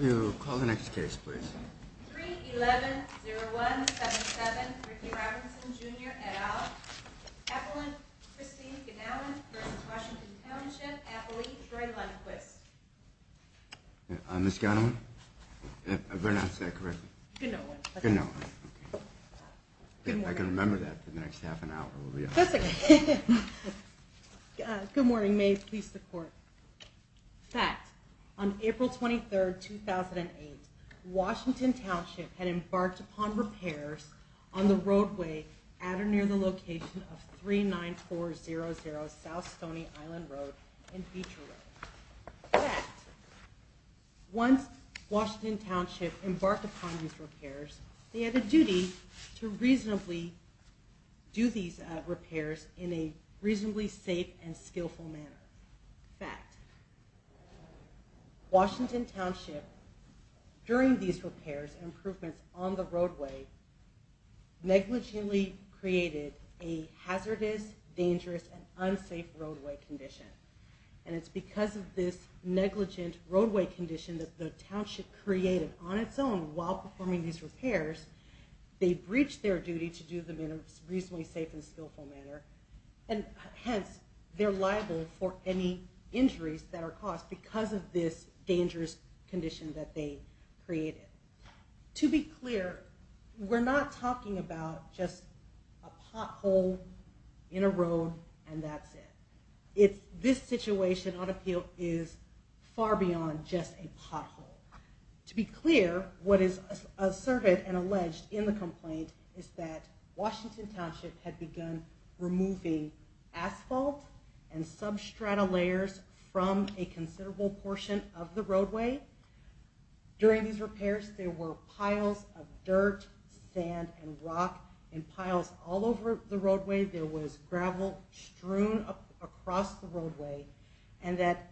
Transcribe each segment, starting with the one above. You call the next case, please. 3-11-0177 Ricky Robinson Jr. et al. Appellant Christine Gnawan v. Washington Township. Appellee Troy Lundquist. Ms. Gnawan? Did I pronounce that correctly? Gnawan. Gnawan. I can remember that for the next half an hour. Good morning. May it please the Court. Fact. On April 23, 2008, Washington Township had embarked upon repairs on the roadway at or near the location of 39400 South Stony Island Road and Beecher Road. Fact. Once Washington Township embarked upon these repairs, they had a duty to reasonably do these repairs in a reasonably safe and skillful manner. Fact. Washington Township, during these repairs and improvements on the roadway, negligently created a hazardous, dangerous, and unsafe roadway condition. And it's because of this negligent roadway condition that the Township created on its own, while performing these repairs, they breached their duty to do them in a reasonably safe and skillful manner. And hence, they're liable for any injuries that are caused because of this dangerous condition that they created. To be clear, we're not talking about just a pothole in a road and that's it. This situation on appeal is far beyond just a pothole. To be clear, what is asserted and alleged in the complaint is that Washington Township had begun removing asphalt and substrata layers from a considerable portion of the roadway. During these repairs, there were piles of dirt, sand, and rock in piles all over the roadway. There was gravel strewn across the roadway. And that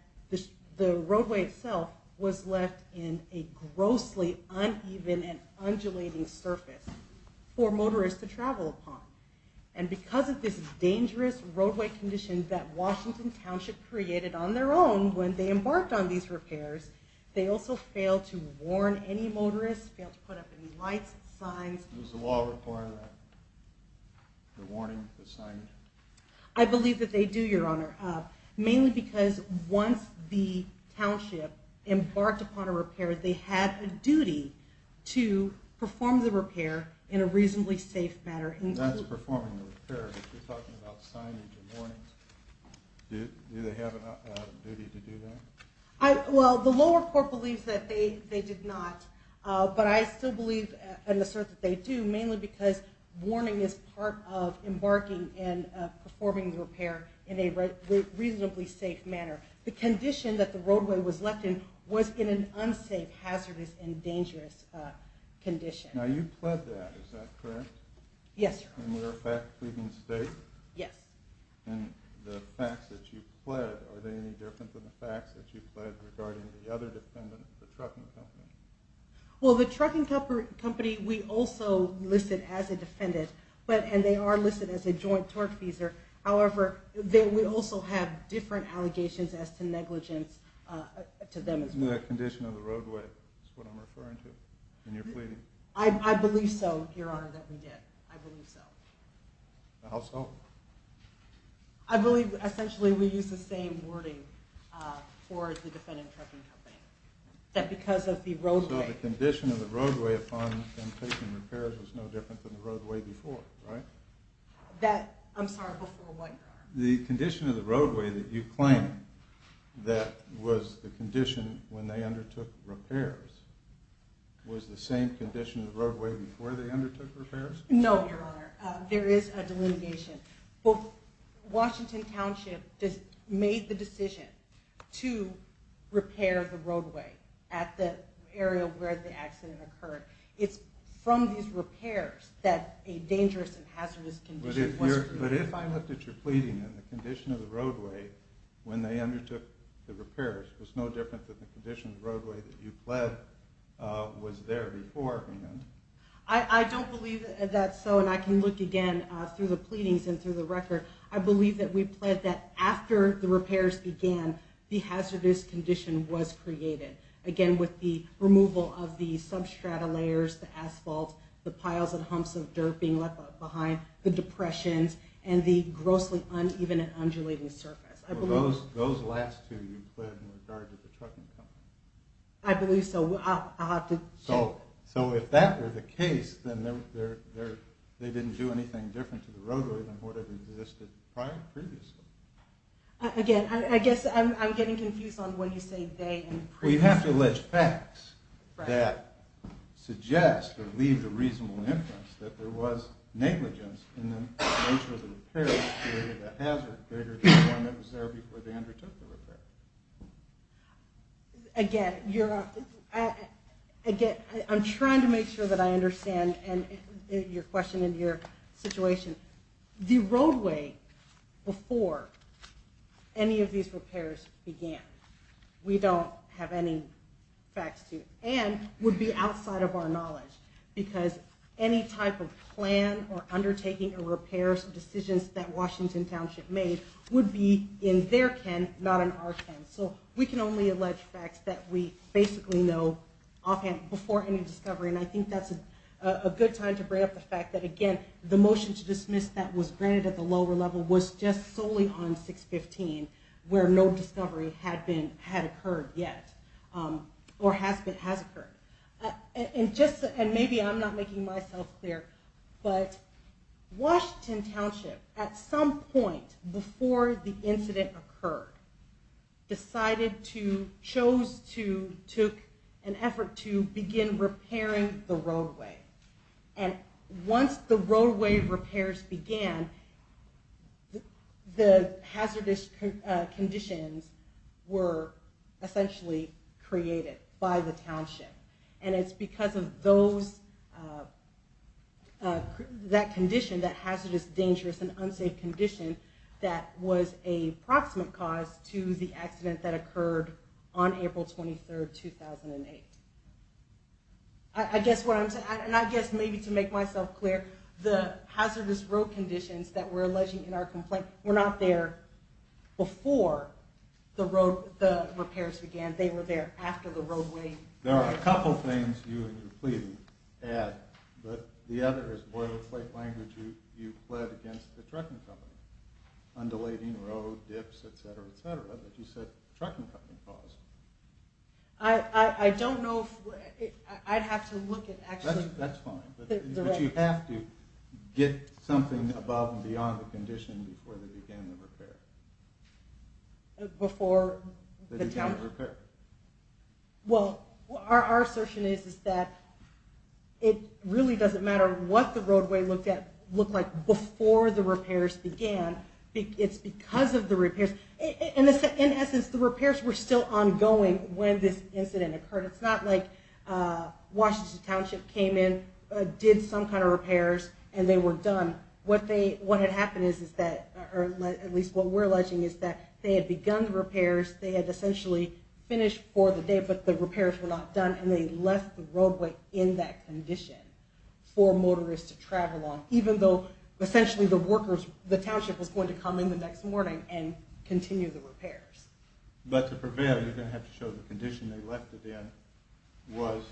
the roadway itself was left in a grossly uneven and undulating surface for motorists to travel upon. And because of this dangerous roadway condition that Washington Township created on their own when they embarked on these repairs, they also failed to warn any motorists, failed to put up any lights, signs. Does the law require that? The warning, the sign? I believe that they do, Your Honor. Mainly because once the Township embarked upon a repair, they had a duty to perform the repair in a reasonably safe manner. That's performing the repair, but you're talking about signage and warnings. Do they have a duty to do that? Well, the lower court believes that they did not, but I still believe and assert that they do, mainly because warning is part of embarking and performing the repair in a reasonably safe manner. The condition that the roadway was left in was in an unsafe, hazardous, and dangerous condition. Now you pled that, is that correct? Yes, Your Honor. And you're pleading state? Yes. And the facts that you pled, are they any different than the facts that you pled regarding the other defendant, the trucking company? Well, the trucking company we also listed as a defendant, and they are listed as a joint tortfeasor. However, we also have different allegations as to negligence to them as well. It's in the condition of the roadway, is what I'm referring to, and you're pleading? I believe so, Your Honor, that we did. I believe so. How so? I believe essentially we used the same wording for the defendant trucking company, that because of the roadway. So the condition of the roadway upon them taking repairs was no different than the roadway before, right? That, I'm sorry, before what, Your Honor? The condition of the roadway that you claim that was the condition when they undertook repairs, was the same condition of the roadway before they undertook repairs? No, Your Honor. There is a delineation. Washington Township made the decision to repair the roadway at the area where the accident occurred. It's from these repairs that a dangerous and hazardous condition was created. But if I looked at your pleading and the condition of the roadway when they undertook the repairs, it was no different than the condition of the roadway that you pled was there before? I don't believe that's so, and I can look again through the pleadings and through the record. I believe that we pled that after the repairs began, the hazardous condition was created. Again, with the removal of the substrata layers, the asphalt, the piles and humps of dirt being left behind, the depressions, and the grossly uneven and undulating surface. Were those last two you pled in regard to the trucking company? I believe so. I'll have to check. So if that were the case, then they didn't do anything different to the roadway than what had existed previously? Again, I guess I'm getting confused on when you say they and previously. Well, you have to allege facts that suggest or leave the reasonable inference that there was negligence in the nature of the repairs that created a hazard bigger than the one that was there before they undertook the repair. Again, I'm trying to make sure that I understand your question and your situation. The roadway before any of these repairs began, we don't have any facts to, and would be outside of our knowledge because any type of plan or undertaking a repair decisions that Washington Township made would be in their ken, not in our ken. So we can only allege facts that we basically know offhand before any discovery. And I think that's a good time to bring up the fact that, again, the motion to dismiss that was granted at the lower level was just solely on 615, where no discovery had occurred yet, or has occurred. And maybe I'm not making myself clear, but Washington Township, at some point before the incident occurred, decided to, chose to, took an effort to begin repairing the roadway. And once the roadway repairs began, the hazardous conditions were essentially created by the Township. And it's because of those, that condition, that hazardous, dangerous, and unsafe condition that was a proximate cause to the accident that occurred on April 23, 2008. I guess what I'm saying, and I guess maybe to make myself clear, the hazardous road conditions that we're alleging in our complaint were not there before the repairs began. They were there after the roadway. There are a couple things you and your pleading add, but the other is boilerplate language you pled against the trucking company. Undulating road, dips, etc., etc., that you said the trucking company caused. I don't know if, I'd have to look at actually... That's fine, but you have to get something above and beyond the condition before they began the repair. Before the Township? They began the repair. Well, our assertion is that it really doesn't matter what the roadway looked like before the repairs began, it's because of the repairs. In essence, the repairs were still ongoing when this incident occurred. It's not like Washington Township came in, did some kind of repairs, and they were done. What had happened is that, or at least what we're alleging, is that they had begun the repairs, they had essentially finished for the day, but the repairs were not done, and they left the roadway in that condition for motorists to travel on, even though, essentially, the Township was going to come in the next morning and continue the repairs. But to prevail, you're going to have to show the condition they left it in was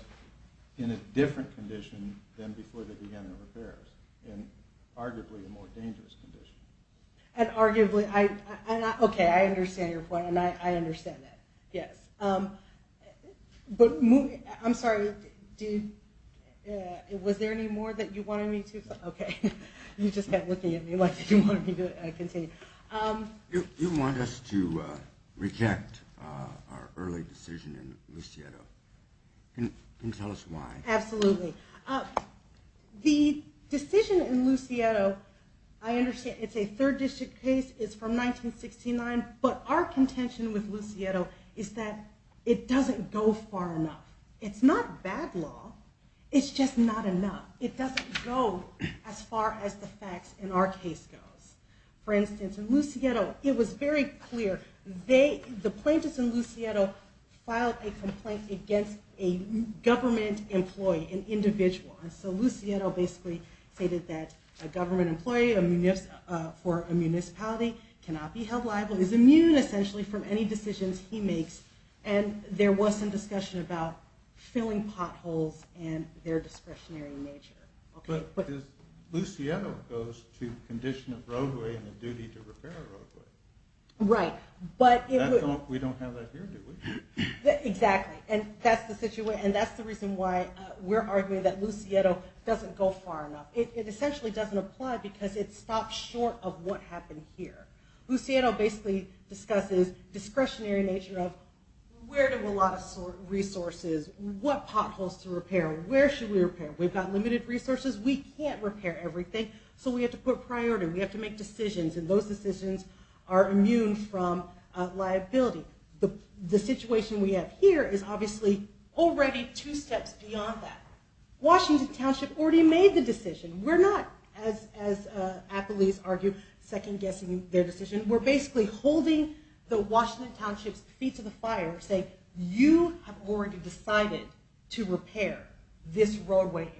in a different condition than before they began the repairs, and arguably a more dangerous condition. And arguably, okay, I understand your point, and I understand that, yes. But, I'm sorry, was there any more that you wanted me to? Okay, you just kept looking at me like you wanted me to continue. You want us to reject our early decision in Lucieto. Can you tell us why? Absolutely. The decision in Lucieto, I understand it's a third district case, it's from 1969, but our contention with Lucieto is that it doesn't go far enough. It's not bad law, it's just not enough. It doesn't go as far as the facts in our case goes. For instance, in Lucieto, it was very clear. The plaintiffs in Lucieto filed a complaint against a government employee, an individual. And so Lucieto basically stated that a government employee for a municipality cannot be held liable, is immune essentially from any decisions he makes, and there was some discussion about filling potholes and their discretionary nature. But Lucieto goes to condition of roadway and a duty to repair a roadway. Right. We don't have that here, do we? Exactly. And that's the reason why we're arguing that Lucieto doesn't go far enough. It essentially doesn't apply because it stops short of what happened here. Lucieto basically discusses discretionary nature of where do a lot of resources, what potholes to repair, where should we repair. We've got limited resources. We can't repair everything, so we have to put priority. We have to make decisions, and those decisions are immune from liability. The situation we have here is obviously already two steps beyond that. Washington Township already made the decision. We're not, as athletes argue, second-guessing their decision. We're basically holding the Washington Township's feet to the fire, saying you have already decided to repair this roadway area.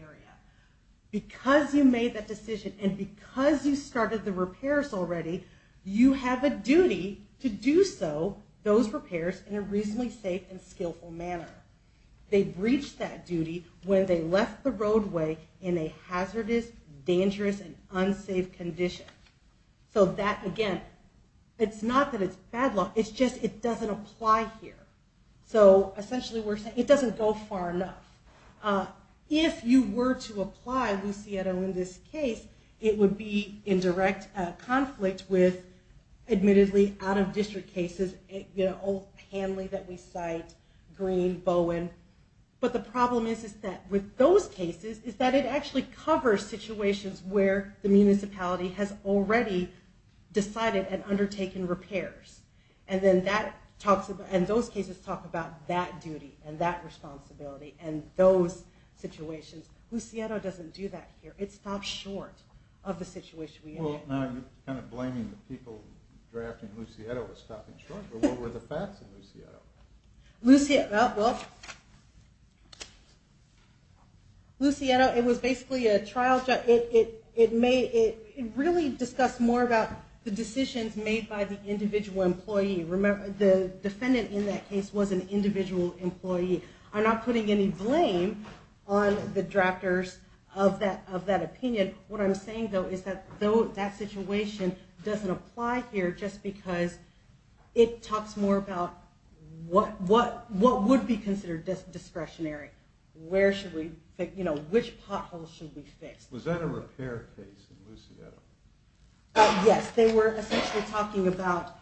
Because you made that decision and because you started the repairs already, you have a duty to do so, those repairs, in a reasonably safe and skillful manner. They breached that duty when they left the roadway in a hazardous, dangerous, and unsafe condition. So that, again, it's not that it's bad luck. It's just it doesn't apply here. So essentially we're saying it doesn't go far enough. If you were to apply, Lucietta, in this case, it would be in direct conflict with, admittedly, out-of-district cases, Old Hanley that we cite, Green, Bowen. But the problem is that with those cases is that it actually covers situations where the municipality has already decided and undertaken repairs. And those cases talk about that duty and that responsibility and those situations. Lucietta doesn't do that here. It stops short of the situation. Well, now you're kind of blaming the people drafting Lucietta for stopping short. But what were the facts of Lucietta? Lucietta, well, Lucietta, it was basically a trial. It really discussed more about the decisions made by the individual employee. The defendant in that case was an individual employee. I'm not putting any blame on the drafters of that opinion. What I'm saying, though, is that that situation doesn't apply here just because it talks more about what would be considered discretionary. Which potholes should we fix? Was that a repair case in Lucietta? Yes. They were essentially talking about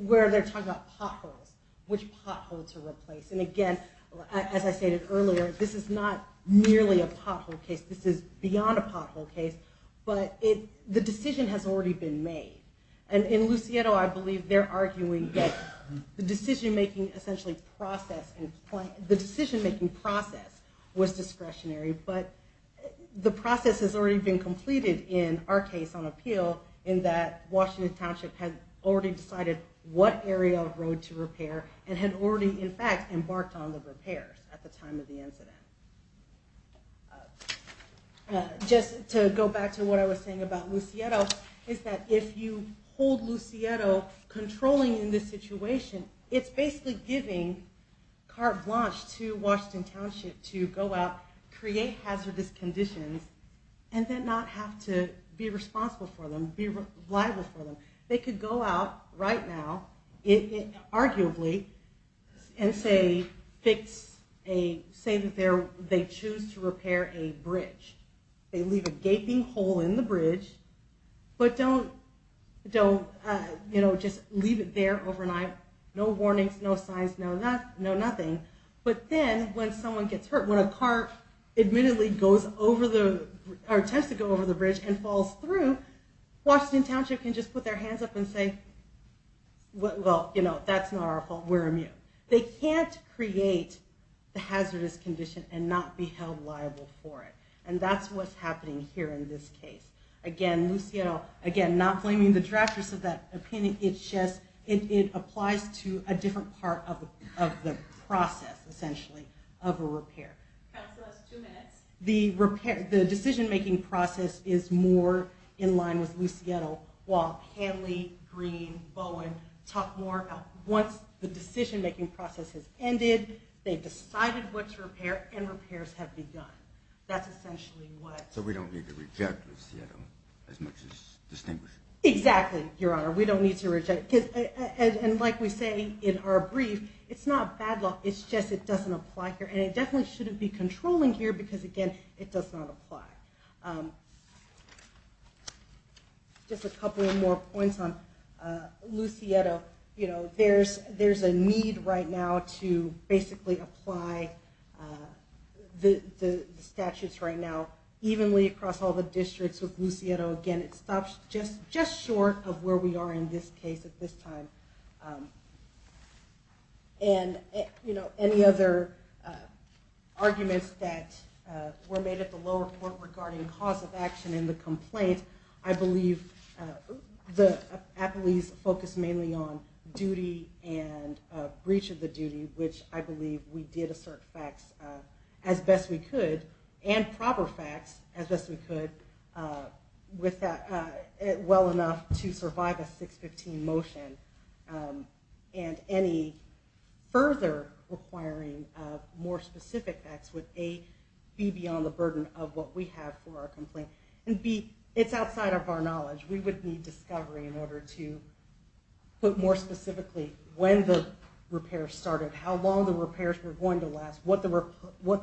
where they're talking about potholes, which potholes to replace. And again, as I stated earlier, this is not merely a pothole case. This is beyond a pothole case. But the decision has already been made. And in Lucietta, I believe they're arguing that the decision-making essentially process, the decision-making process was discretionary. But the process has already been completed in our case on appeal in that Washington Township had already decided what area of road to repair and had already, in fact, embarked on the repairs at the time of the incident. Just to go back to what I was saying about Lucietta, is that if you hold Lucietta controlling in this situation, it's basically giving carte blanche to Washington Township to go out, create hazardous conditions, and then not have to be responsible for them, be liable for them. They could go out right now, arguably, and say that they choose to repair a bridge. They leave a gaping hole in the bridge, but don't just leave it there overnight, no warnings, no signs, no nothing. But then when someone gets hurt, when a car admittedly goes over the, or attempts to go over the bridge and falls through, Washington Township can just put their hands up and say, well, you know, that's not our fault, we're immune. They can't create the hazardous condition and not be held liable for it. And that's what's happening here in this case. Again, Lucietta, again, not blaming the drafters of that opinion, it applies to a different part of the process, essentially, of a repair. Council has two minutes. The decision-making process is more in line with Lucietta while Hanley, Green, Bowen talk more. Once the decision-making process has ended, they've decided what to repair, and repairs have begun. That's essentially what... So we don't need to reject Lucietta as much as distinguish her. Exactly, Your Honor. We don't need to reject. And like we say in our brief, it's not a bad law, it's just it doesn't apply here. And it definitely shouldn't be controlling here because, again, it does not apply. Just a couple more points on Lucietta. You know, there's a need right now to basically apply the statutes right now evenly across all the districts with Lucietta. You know, again, it stops just short of where we are in this case at this time. And, you know, any other arguments that were made at the lower court regarding cause of action in the complaint, I believe the appellees focused mainly on duty and breach of the duty, which I believe we did assert facts as best we could, and proper facts as best we could, well enough to survive a 615 motion. And any further requiring more specific facts would, A, be beyond the burden of what we have for our complaint, and, B, it's outside of our knowledge. We would need discovery in order to put more specifically when the repair started, how long the repairs were going to last, what the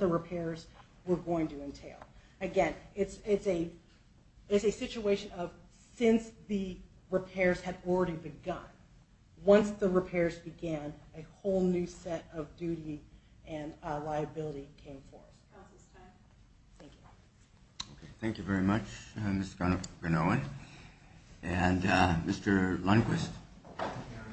repairs were going to entail. Again, it's a situation of since the repairs had already begun, once the repairs began, a whole new set of duty and liability came forth. Counsel's time. Thank you. Okay. Thank you very much, Ms. Granoff-Granoff. And Mr. Lundquist. Thank you, Your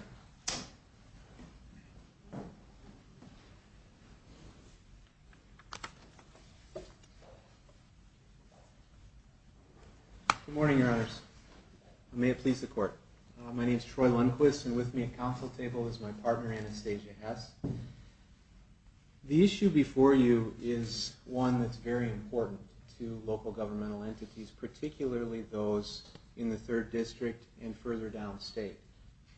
Honor. Good morning, Your Honors. May it please the Court. My name is Troy Lundquist, and with me at counsel table is my partner, Anastasia Hess. The issue before you is one that's very important to local governmental entities, particularly those in the 3rd District and further downstate.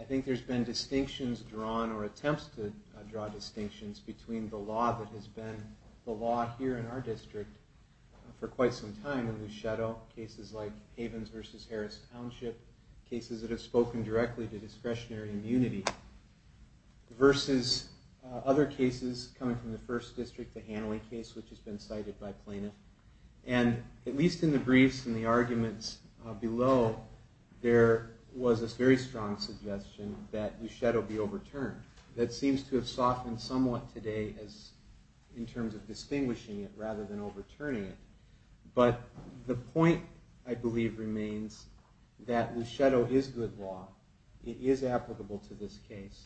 I think there's been distinctions drawn or attempts to draw distinctions between the law that has been the law here in our district for quite some time, in the shadow of cases like Havens v. Harris Township, cases that have spoken directly to discretionary immunity, versus other cases coming from the 1st District, the Hanley case, which has been cited by plaintiffs. And at least in the briefs and the arguments below, there was a very strong suggestion that Luschetto be overturned. That seems to have softened somewhat today in terms of distinguishing it rather than overturning it. But the point, I believe, remains that Luschetto is good law. It is applicable to this case.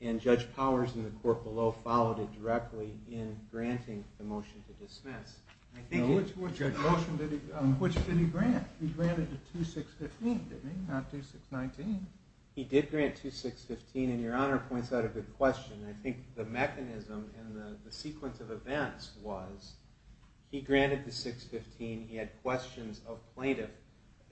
And Judge Powers in the court below followed it directly in granting the motion to dismiss. Which motion did he grant? He granted the 2615, didn't he? Not 2619. He did grant 2615, and Your Honor points out a good question. I think the mechanism and the sequence of events was he granted the 615, he had questions of plaintiffs.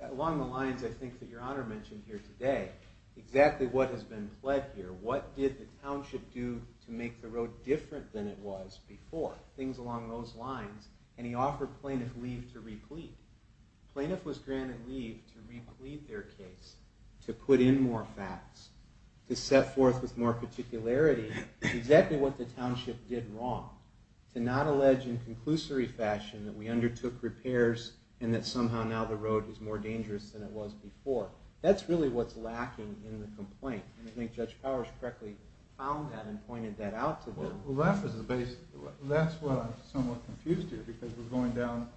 Along the lines, I think, that Your Honor mentioned here today, exactly what has been pled here. What did the township do to make the road different than it was before? Things along those lines. And he offered plaintiff leave to replete. Plaintiff was granted leave to replete their case, to put in more facts, to set forth with more particularity exactly what the township did wrong, to not allege in conclusory fashion that we undertook repairs and that somehow now the road is more dangerous than it was before. That's really what's lacking in the complaint. And I think Judge Powers correctly found that and pointed that out to them. Well, that's what I'm somewhat confused here, because we're going down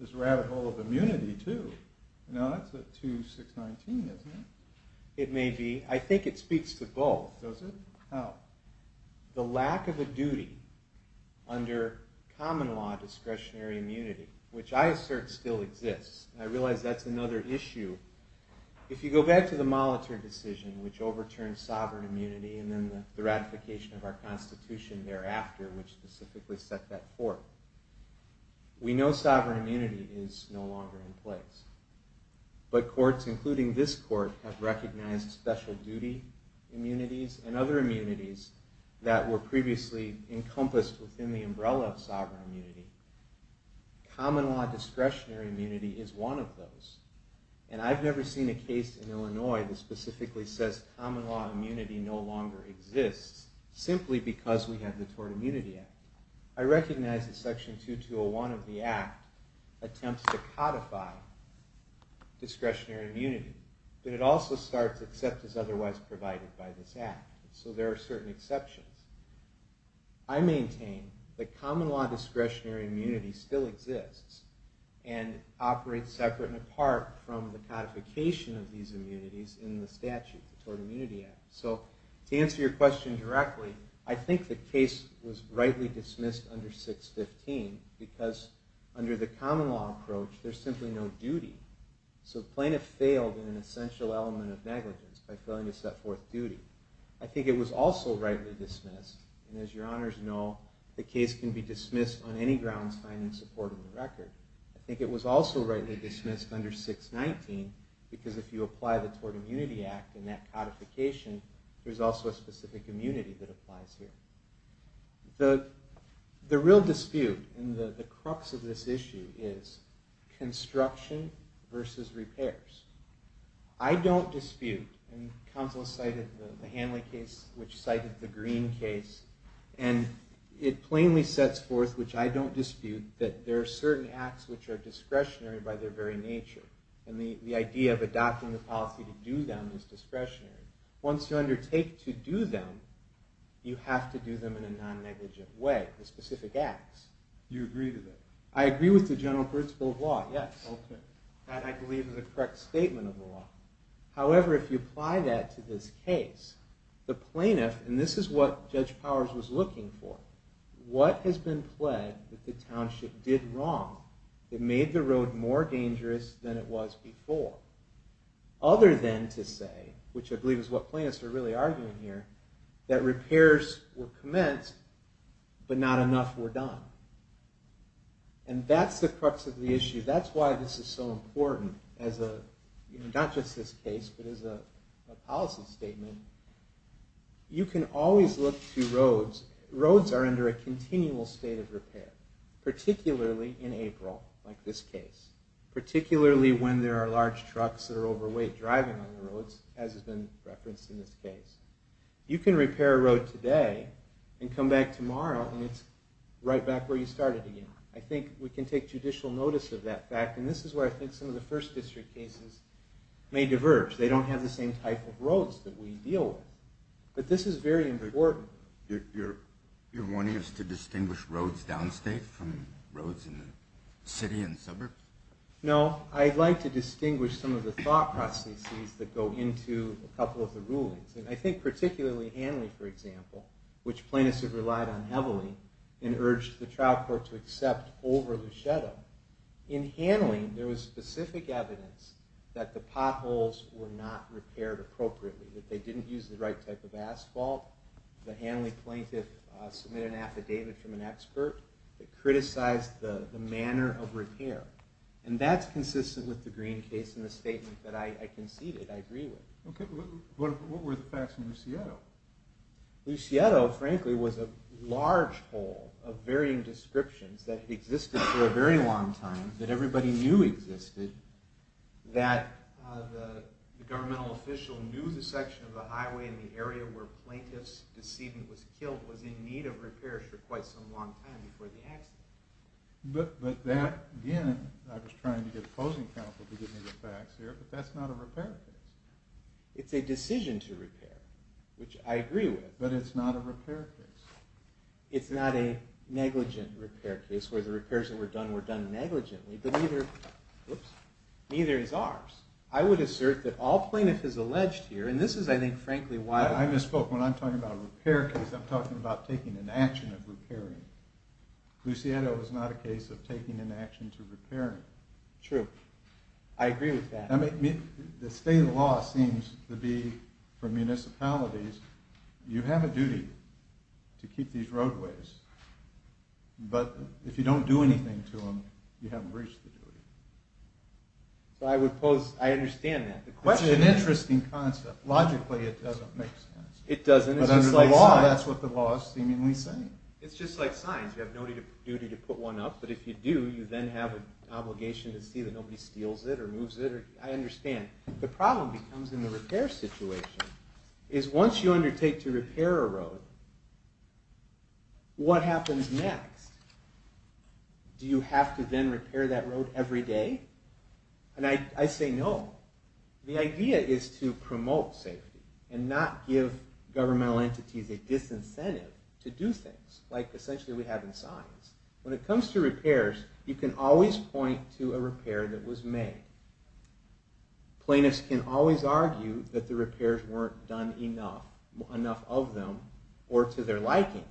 this rabbit hole of immunity, too. Now, that's a 2619, isn't it? It may be. I think it speaks to both. Does it? How? The lack of a duty under common law discretionary immunity, which I assert still exists, and I realize that's another issue. If you go back to the Molitor decision, which overturned sovereign immunity and then the ratification of our Constitution thereafter, which specifically set that forth, we know sovereign immunity is no longer in place. But courts, including this court, have recognized special duty immunities and other immunities that were previously encompassed within the umbrella of sovereign immunity. Common law discretionary immunity is one of those. And I've never seen a case in Illinois that specifically says simply because we have the Tort Immunity Act. I recognize that Section 2201 of the Act attempts to codify discretionary immunity, but it also starts, except as otherwise provided by this Act. So there are certain exceptions. I maintain that common law discretionary immunity still exists and operates separate and apart from the codification of these immunities in the statute, the Tort Immunity Act. So to answer your question directly, I think the case was rightly dismissed under 615 because under the common law approach, there's simply no duty. So the plaintiff failed in an essential element of negligence by failing to set forth duty. I think it was also rightly dismissed, and as your honors know, the case can be dismissed on any grounds finding support in the record. I think it was also rightly dismissed under 619 because if you apply the Tort Immunity Act in that codification, there's also a specific immunity that applies here. The real dispute in the crux of this issue is construction versus repairs. I don't dispute, and counsel cited the Hanley case, which cited the Green case, and it plainly sets forth, which I don't dispute, that there are certain acts which are discretionary by their very nature. And the idea of adopting the policy to do them is discretionary. Once you undertake to do them, you have to do them in a non-negligent way, the specific acts. You agree with that? I agree with the general principle of law, yes. Okay. That, I believe, is a correct statement of the law. However, if you apply that to this case, the plaintiff, and this is what Judge Powers was looking for, what has been pled that the township did wrong that made the road more dangerous than it was before, other than to say, which I believe is what plaintiffs are really arguing here, that repairs were commenced but not enough were done. And that's the crux of the issue. That's why this is so important as a, not just this case, but as a policy statement. You can always look to roads. Roads are under a continual state of repair, particularly in April like this case, particularly when there are large trucks that are overweight driving on the roads, as has been referenced in this case. You can repair a road today and come back tomorrow and it's right back where you started again. I think we can take judicial notice of that fact, and this is where I think some of the first district cases may diverge. They don't have the same type of roads that we deal with. But this is very important. You're wanting us to distinguish roads downstate from roads in the city and suburbs? No. I'd like to distinguish some of the thought processes that go into a couple of the rulings. I think particularly Hanley, for example, which plaintiffs have relied on heavily and urged the trial court to accept over Luchetta, in Hanley there was specific evidence that the potholes were not repaired appropriately, that they didn't use the right type of asphalt. The Hanley plaintiff submitted an affidavit from an expert that criticized the manner of repair. And that's consistent with the Green case and the statement that I conceded I agree with. Okay. What were the facts in Luchetta? Luchetta, frankly, was a large hole of varying descriptions that existed for a very long time, that everybody knew existed, that the governmental official knew the section of the highway in the area where plaintiff's deceit was killed was in need of repairs for quite some long time before the accident. But that, again, I was trying to get opposing counsel to give me the facts here, but that's not a repair case. It's a decision to repair, which I agree with. But it's not a repair case. It's not a negligent repair case, where the repairs that were done were done negligently, but neither is ours. I would assert that all plaintiffs as alleged here, and this is, I think, frankly, why... I misspoke. When I'm talking about a repair case, I'm talking about taking an action of repairing. Luchetta was not a case of taking an action to repairing. True. I agree with that. The state law seems to be, for municipalities, you have a duty to keep these roadways, but if you don't do anything to them, you haven't reached the duty. I understand that. It's an interesting concept. Logically, it doesn't make sense. It doesn't. But under the law, that's what the law is seemingly saying. It's just like signs. You have no duty to put one up, but if you do, you then have an obligation to see that nobody steals it or moves it. I understand. The problem becomes in the repair situation, is once you undertake to repair a road, what happens next? Do you have to then repair that road every day? And I say no. The idea is to promote safety and not give governmental entities a disincentive to do things, like essentially we have in science. When it comes to repairs, you can always point to a repair that was made. Plaintiffs can always argue that the repairs weren't done enough of them or to their liking.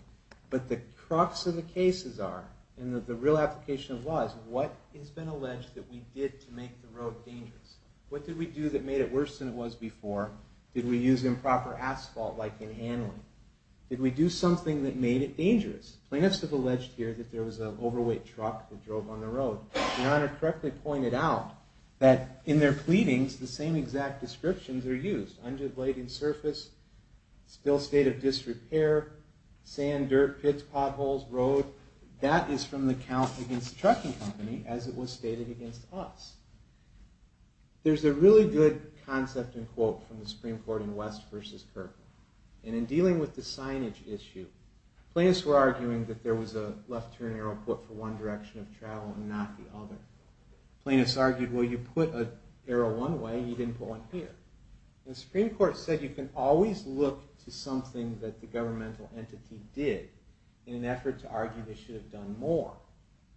But the crux of the cases are, and the real application of the law is, what has been alleged that we did to make the road dangerous? What did we do that made it worse than it was before? Did we use improper asphalt, like in handling? Did we do something that made it dangerous? Plaintiffs have alleged here that there was an overweight truck that drove on the road. Your Honor correctly pointed out that in their pleadings, the same exact descriptions are used. Undulating surface, still state of disrepair, sand, dirt, pits, potholes, road. That is from the count against the trucking company as it was stated against us. There's a really good concept and quote from the Supreme Court in West v. Kirkland. And in dealing with the signage issue, plaintiffs were arguing that there was a left turn arrow put for one direction of travel and not the other. Plaintiffs argued, well, you put an arrow one way, you didn't put one here. The Supreme Court said you can always look to something that the governmental entity did in an effort to argue they should have done more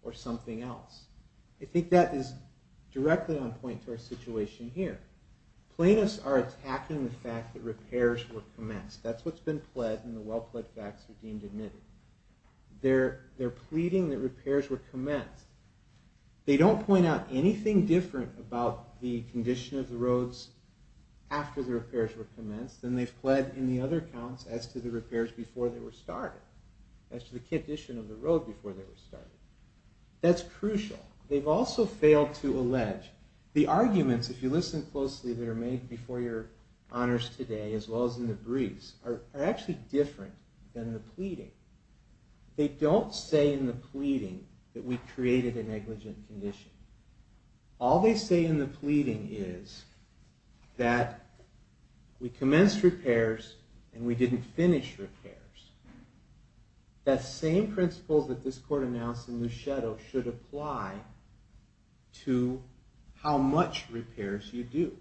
or something else. I think that is directly on point to our situation here. Plaintiffs are attacking the fact that repairs were commenced. That's what's been pled, and the well-pled facts are deemed admitted. They're pleading that repairs were commenced. They don't point out anything different about the condition of the roads after the repairs were commenced than they've pled in the other counts as to the repairs before they were started, as to the condition of the road before they were started. That's crucial. They've also failed to allege the arguments, if you listen closely, that are made before your honors today as well as in the briefs are actually different than the pleading. They don't say in the pleading that we created a negligent condition. All they say in the pleading is that we commenced repairs and we didn't finish repairs. That same principle that this court announced in Luceto should apply to how much repairs you do.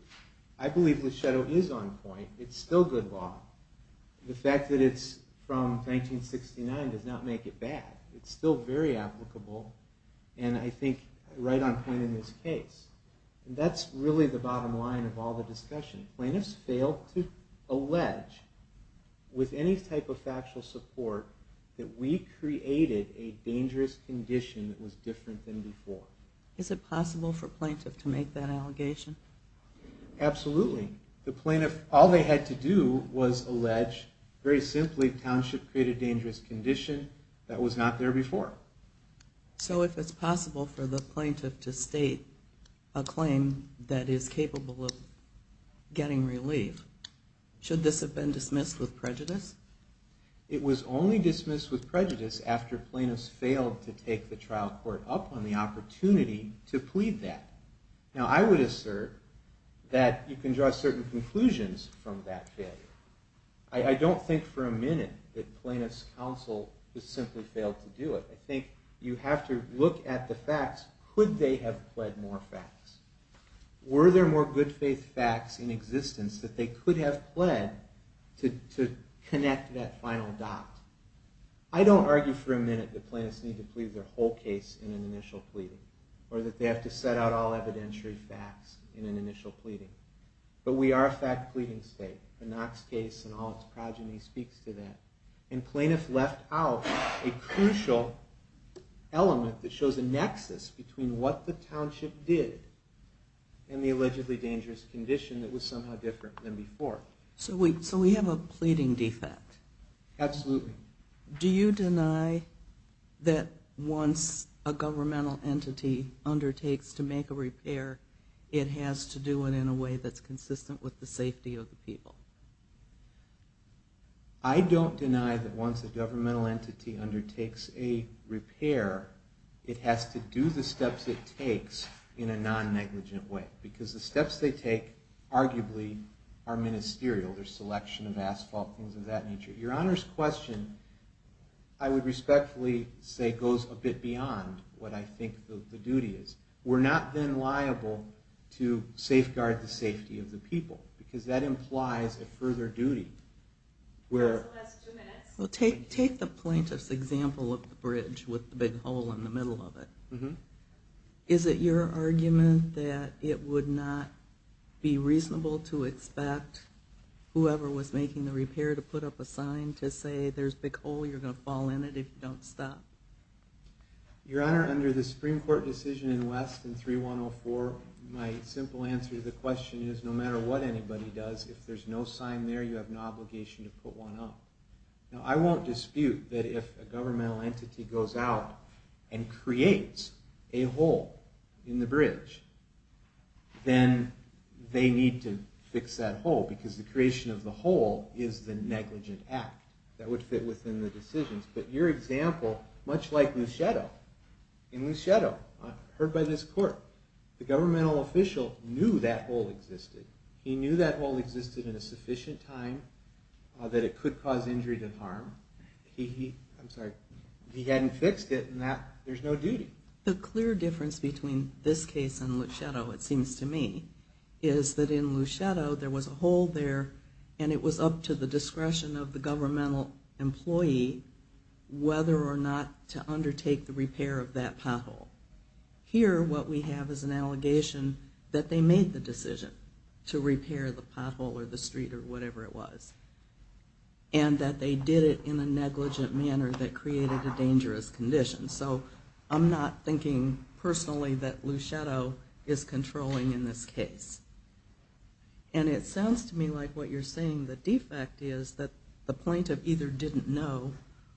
I believe Luceto is on point. It's still good law. The fact that it's from 1969 does not make it bad. It's still very applicable and I think right on point in this case. That's really the bottom line of all the discussion. Plaintiffs failed to allege with any type of factual support that we created a dangerous condition that was different than before. Is it possible for plaintiffs to make that allegation? Absolutely. All they had to do was allege very simply township created dangerous condition that was not there before. So if it's possible for the plaintiff to state a claim that is capable of getting relief, should this have been dismissed with prejudice? It was only dismissed with prejudice after plaintiffs failed to take the trial court up on the opportunity to plead that. Now I would assert that you can draw certain conclusions from that failure. I don't think for a minute that plaintiffs' counsel just simply failed to do it. I think you have to look at the facts. Could they have pled more facts? Were there more good faith facts in existence that they could have pled to connect that final dot? I don't argue for a minute that plaintiffs need to plead their whole case in an initial pleading or that they have to set out all evidentiary facts in an initial pleading. But we are a fact-pleading state. The Knox case and all its progeny speaks to that. And plaintiffs left out a crucial element that shows a nexus between what the township did and the allegedly dangerous condition that was somehow different than before. So we have a pleading defect. Absolutely. Do you deny that once a governmental entity undertakes to make a repair, it has to do it in a way that's consistent with the safety of the people? I don't deny that once a governmental entity undertakes a repair, it has to do the steps it takes in a non-negligent way, because the steps they take arguably are ministerial. There's selection of asphalt, things of that nature. Your Honor's question, I would respectfully say, goes a bit beyond what I think the duty is. We're not then liable to safeguard the safety of the people, because that implies a further duty. We'll take the plaintiff's example of the bridge with the big hole in the middle of it. Is it your argument that it would not be reasonable to expect whoever was making the repair to put up a sign to say there's a big hole, you're going to fall in it if you don't stop? Your Honor, under the Supreme Court decision in West in 3104, my simple answer to the question is, no matter what anybody does, if there's no sign there, you have an obligation to put one up. Now, I won't dispute that if a governmental entity goes out and creates a hole in the bridge, then they need to fix that hole, because the creation of the hole is the negligent act that would fit within the decisions. But your example, much like Luschetto, in Luschetto, heard by this Court, the governmental official knew that hole existed. He knew that hole existed in a sufficient time that it could cause injury and harm. He hadn't fixed it, and there's no duty. The clear difference between this case and Luschetto, it seems to me, is that in Luschetto, there was a hole there, and it was up to the discretion of the governmental employee whether or not to undertake the repair of that pothole. Here, what we have is an allegation that they made the decision to repair the pothole or the street or whatever it was, and that they did it in a negligent manner that created a dangerous condition. So I'm not thinking personally that Luschetto is controlling in this case. And it sounds to me like what you're saying, the defect is that the plaintiff either didn't know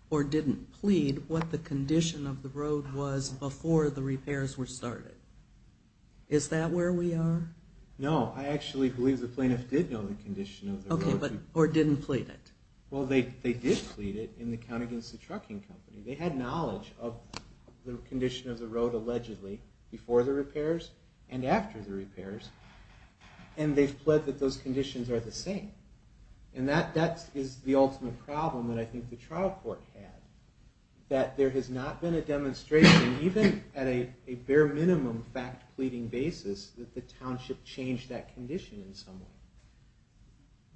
or didn't plead what the condition of the road was before the repairs were started. Is that where we are? No, I actually believe the plaintiff did know the condition of the road. Okay, or didn't plead it. Well, they did plead it in the Count against the Trucking Company. They had knowledge of the condition of the road, allegedly, before the repairs and after the repairs, and they've pled that those conditions are the same. And that is the ultimate problem that I think the trial court had, that there has not been a demonstration, even at a bare minimum fact-pleading basis, that the township changed that condition in some way.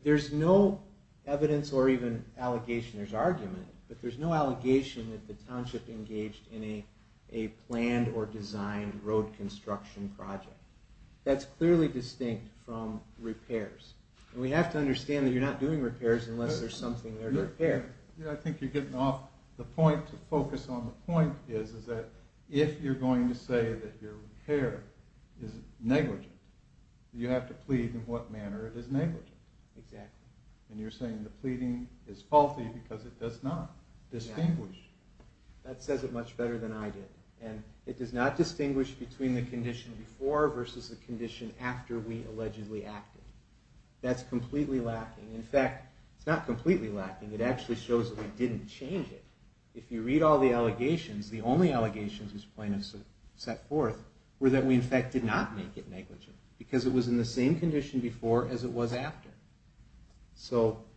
There's no evidence or even allegation, there's argument, but there's no allegation that the township engaged in a planned or designed road construction project. That's clearly distinct from repairs. And we have to understand that you're not doing repairs unless there's something there to repair. Yeah, I think you're getting off the point. The focus on the point is that if you're going to say that your repair is negligent, you have to plead in what manner it is negligent. Exactly. And you're saying the pleading is faulty because it does not distinguish. That says it much better than I did. And it does not distinguish between the condition before versus the condition after we allegedly acted. That's completely lacking. In fact, it's not completely lacking. It actually shows that we didn't change it. If you read all the allegations, the only allegations this plaintiff set forth were that we in fact did not make it negligent because it was in the same condition before as it was after.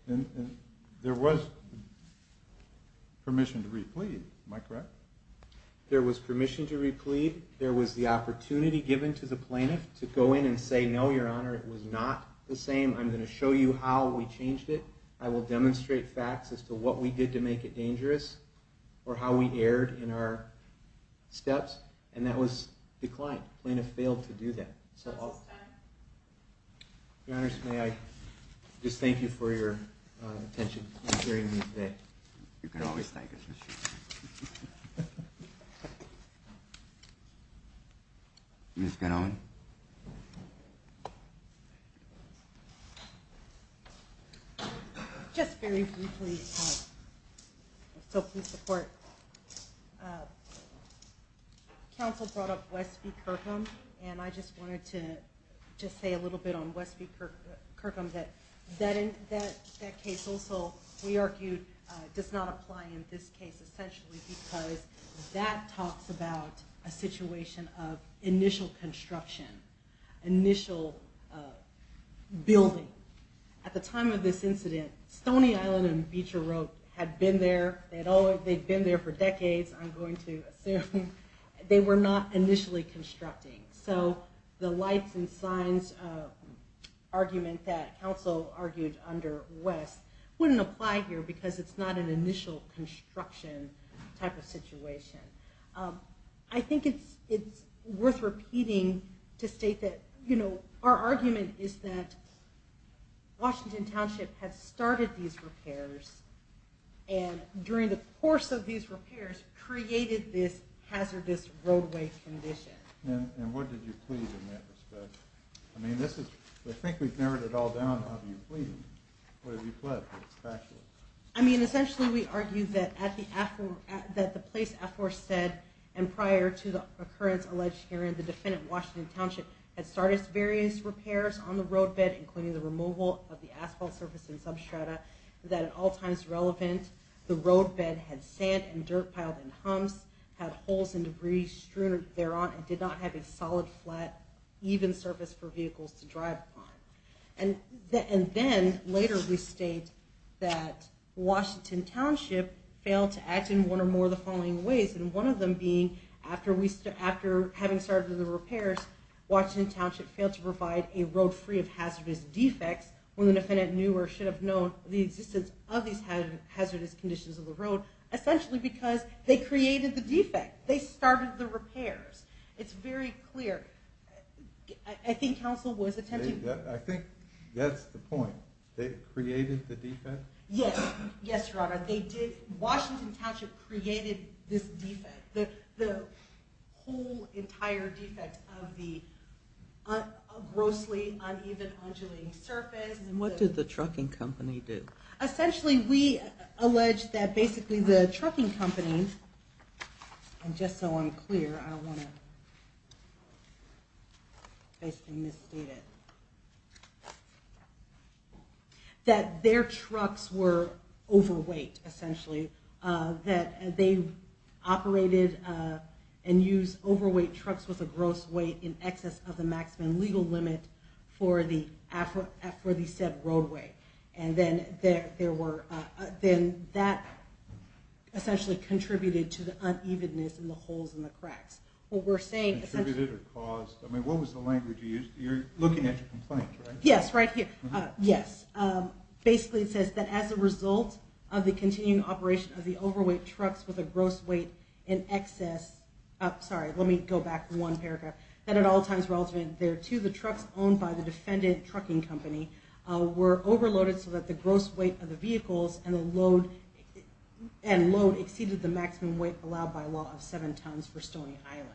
And there was permission to re-plead. Am I correct? There was permission to re-plead. There was the opportunity given to the plaintiff to go in and say, no, Your Honor, it was not the same. I'm going to show you how we changed it. I will demonstrate facts as to what we did to make it dangerous or how we erred in our steps. And that was declined. The plaintiff failed to do that. Last time. Your Honors, may I just thank you for your attention and hearing me today. You can always thank us. Ms. Gannon? Just very briefly, so please support. Counsel brought up Westby-Kirkham, and I just wanted to say a little bit on Westby-Kirkham. That case also, we argued, does not apply in this case essentially because that talks about a situation of initial construction, initial building. At the time of this incident, Stony Island and Beecher Road had been there. They'd been there for decades, I'm going to assume. They were not initially constructing. So the lights and signs argument that counsel argued under West wouldn't apply here because it's not an initial construction type of situation. I think it's worth repeating to state that our argument is that during the course of these repairs created this hazardous roadway condition. And what did you plead in that respect? I mean, this is, I think we've narrowed it all down. How do you plead? What did you pledge? I mean, essentially we argued that at the place Affor said, and prior to the occurrence alleged herein, the defendant, Washington Township, had started various repairs on the roadbed, including the removal of the asphalt surface and substrata, that at all times relevant the roadbed had sand and dirt piled and humps, had holes and debris strewn thereon, and did not have a solid, flat, even surface for vehicles to drive upon. And then later we state that Washington Township failed to act in one or more of the following ways, and one of them being after having started the repairs, Washington Township failed to provide a road free of hazardous defects when the defendant knew or should have known the existence of these hazardous conditions of the road, essentially because they created the defect. They started the repairs. It's very clear. I think counsel was attempting to. I think that's the point. They created the defect? Yes. Yes, Your Honor. They did. Washington Township created this defect. The whole entire defect of the grossly uneven undulating surface. And what did the trucking company do? Essentially we allege that basically the trucking company, and just so I'm clear, I don't want to basically misstate it, that their trucks were overweight, essentially. That they operated and used overweight trucks with a gross weight in excess of the maximum legal limit for the said roadway. And then that essentially contributed to the unevenness and the holes and the cracks. Contributed or caused? I mean, what was the language you used? You're looking at your complaint, right? Yes, right here. Yes. Basically it says that as a result of the continuing operation of the overweight trucks with a gross weight in excess. Sorry, let me go back one paragraph. That at all times relative there to the trucks owned by the defendant trucking company were overloaded so that the gross weight of the vehicles and load exceeded the maximum weight allowed by law of seven tons for Stoney Island.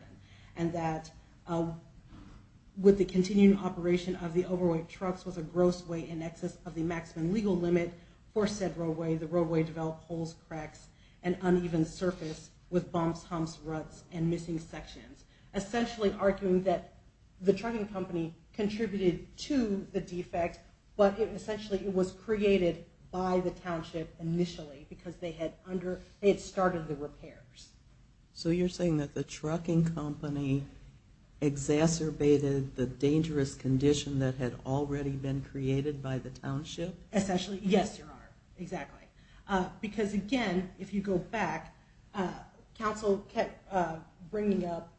And that with the continuing operation of the overweight trucks with a maximum legal limit for said roadway, the roadway developed holes, cracks, and uneven surface with bumps, humps, ruts, and missing sections. Essentially arguing that the trucking company contributed to the defect, but it essentially was created by the township initially because they had started the repairs. So you're saying that the trucking company exacerbated the dangerous condition that had already been created by the township? Essentially, yes, Your Honor. Exactly. Because, again, if you go back, counsel kept bringing up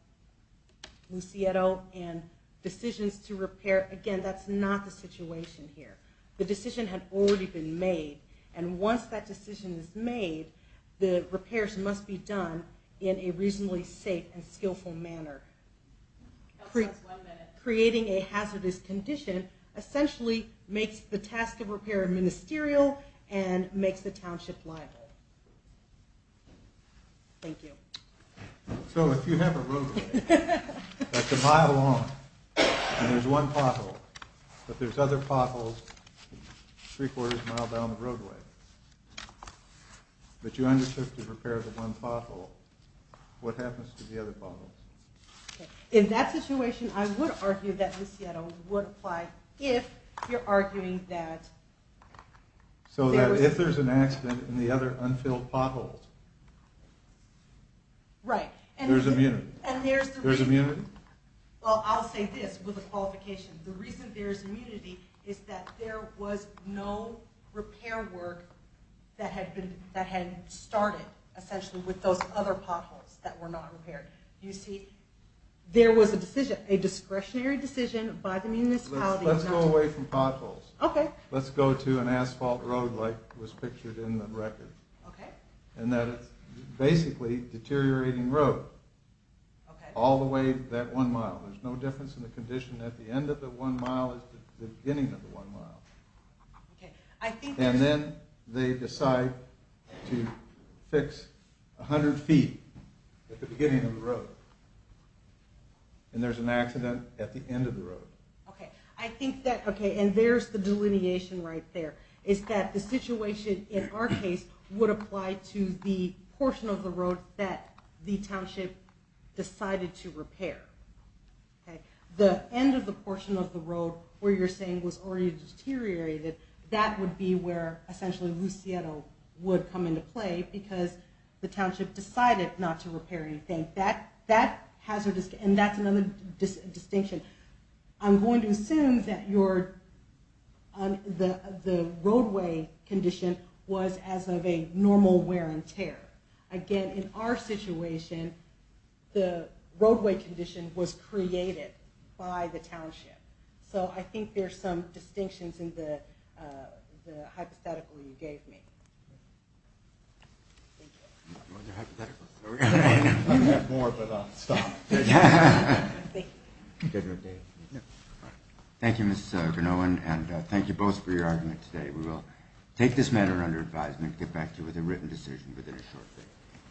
Lucieto and decisions to repair. Again, that's not the situation here. The decision had already been made. And once that decision is made, the repairs must be done in a reasonably safe and skillful manner. Counsel has one minute. Creating a hazardous condition essentially makes the task of repair ministerial and makes the township liable. Thank you. So if you have a roadway that's a mile long and there's one pothole, but there's other potholes three-quarters of a mile down the roadway, but you undertook to repair the one pothole, what happens to the other potholes? In that situation, I would argue that Lucieto would apply if you're arguing that there was an accident in the other unfilled potholes. Right. There's immunity. And there's the reason. There's immunity. Well, I'll say this with a qualification. The reason there's immunity is that there was no repair work that had started essentially with those other potholes that were not repaired. You see, there was a discretionary decision by the municipality. Let's go away from potholes. Okay. Let's go to an asphalt road like was pictured in the record. Okay. And that is basically deteriorating road. Okay. All the way that one mile. There's no difference in the condition at the end of the one mile is the beginning of the one mile. Okay. And then they decide to fix 100 feet at the beginning of the road. And there's an accident at the end of the road. Okay. And there's the delineation right there is that the situation in our case Okay. The end of the portion of the road where you're saying was already deteriorated, that would be where essentially Lucero would come into play because the township decided not to repair anything. And that's another distinction. I'm going to assume that the roadway condition was as of a normal wear and tear. Again, in our situation, the roadway condition was created by the township. So I think there's some distinctions in the hypothetical you gave me. Thank you. Well, they're hypotheticals. There we go. I'm going to have more, but stop. Thank you. Thank you, David. Thank you, Ms. Van Owen, and thank you both for your argument today. We will take this matter under advisement and get back to you with a decision within a short time.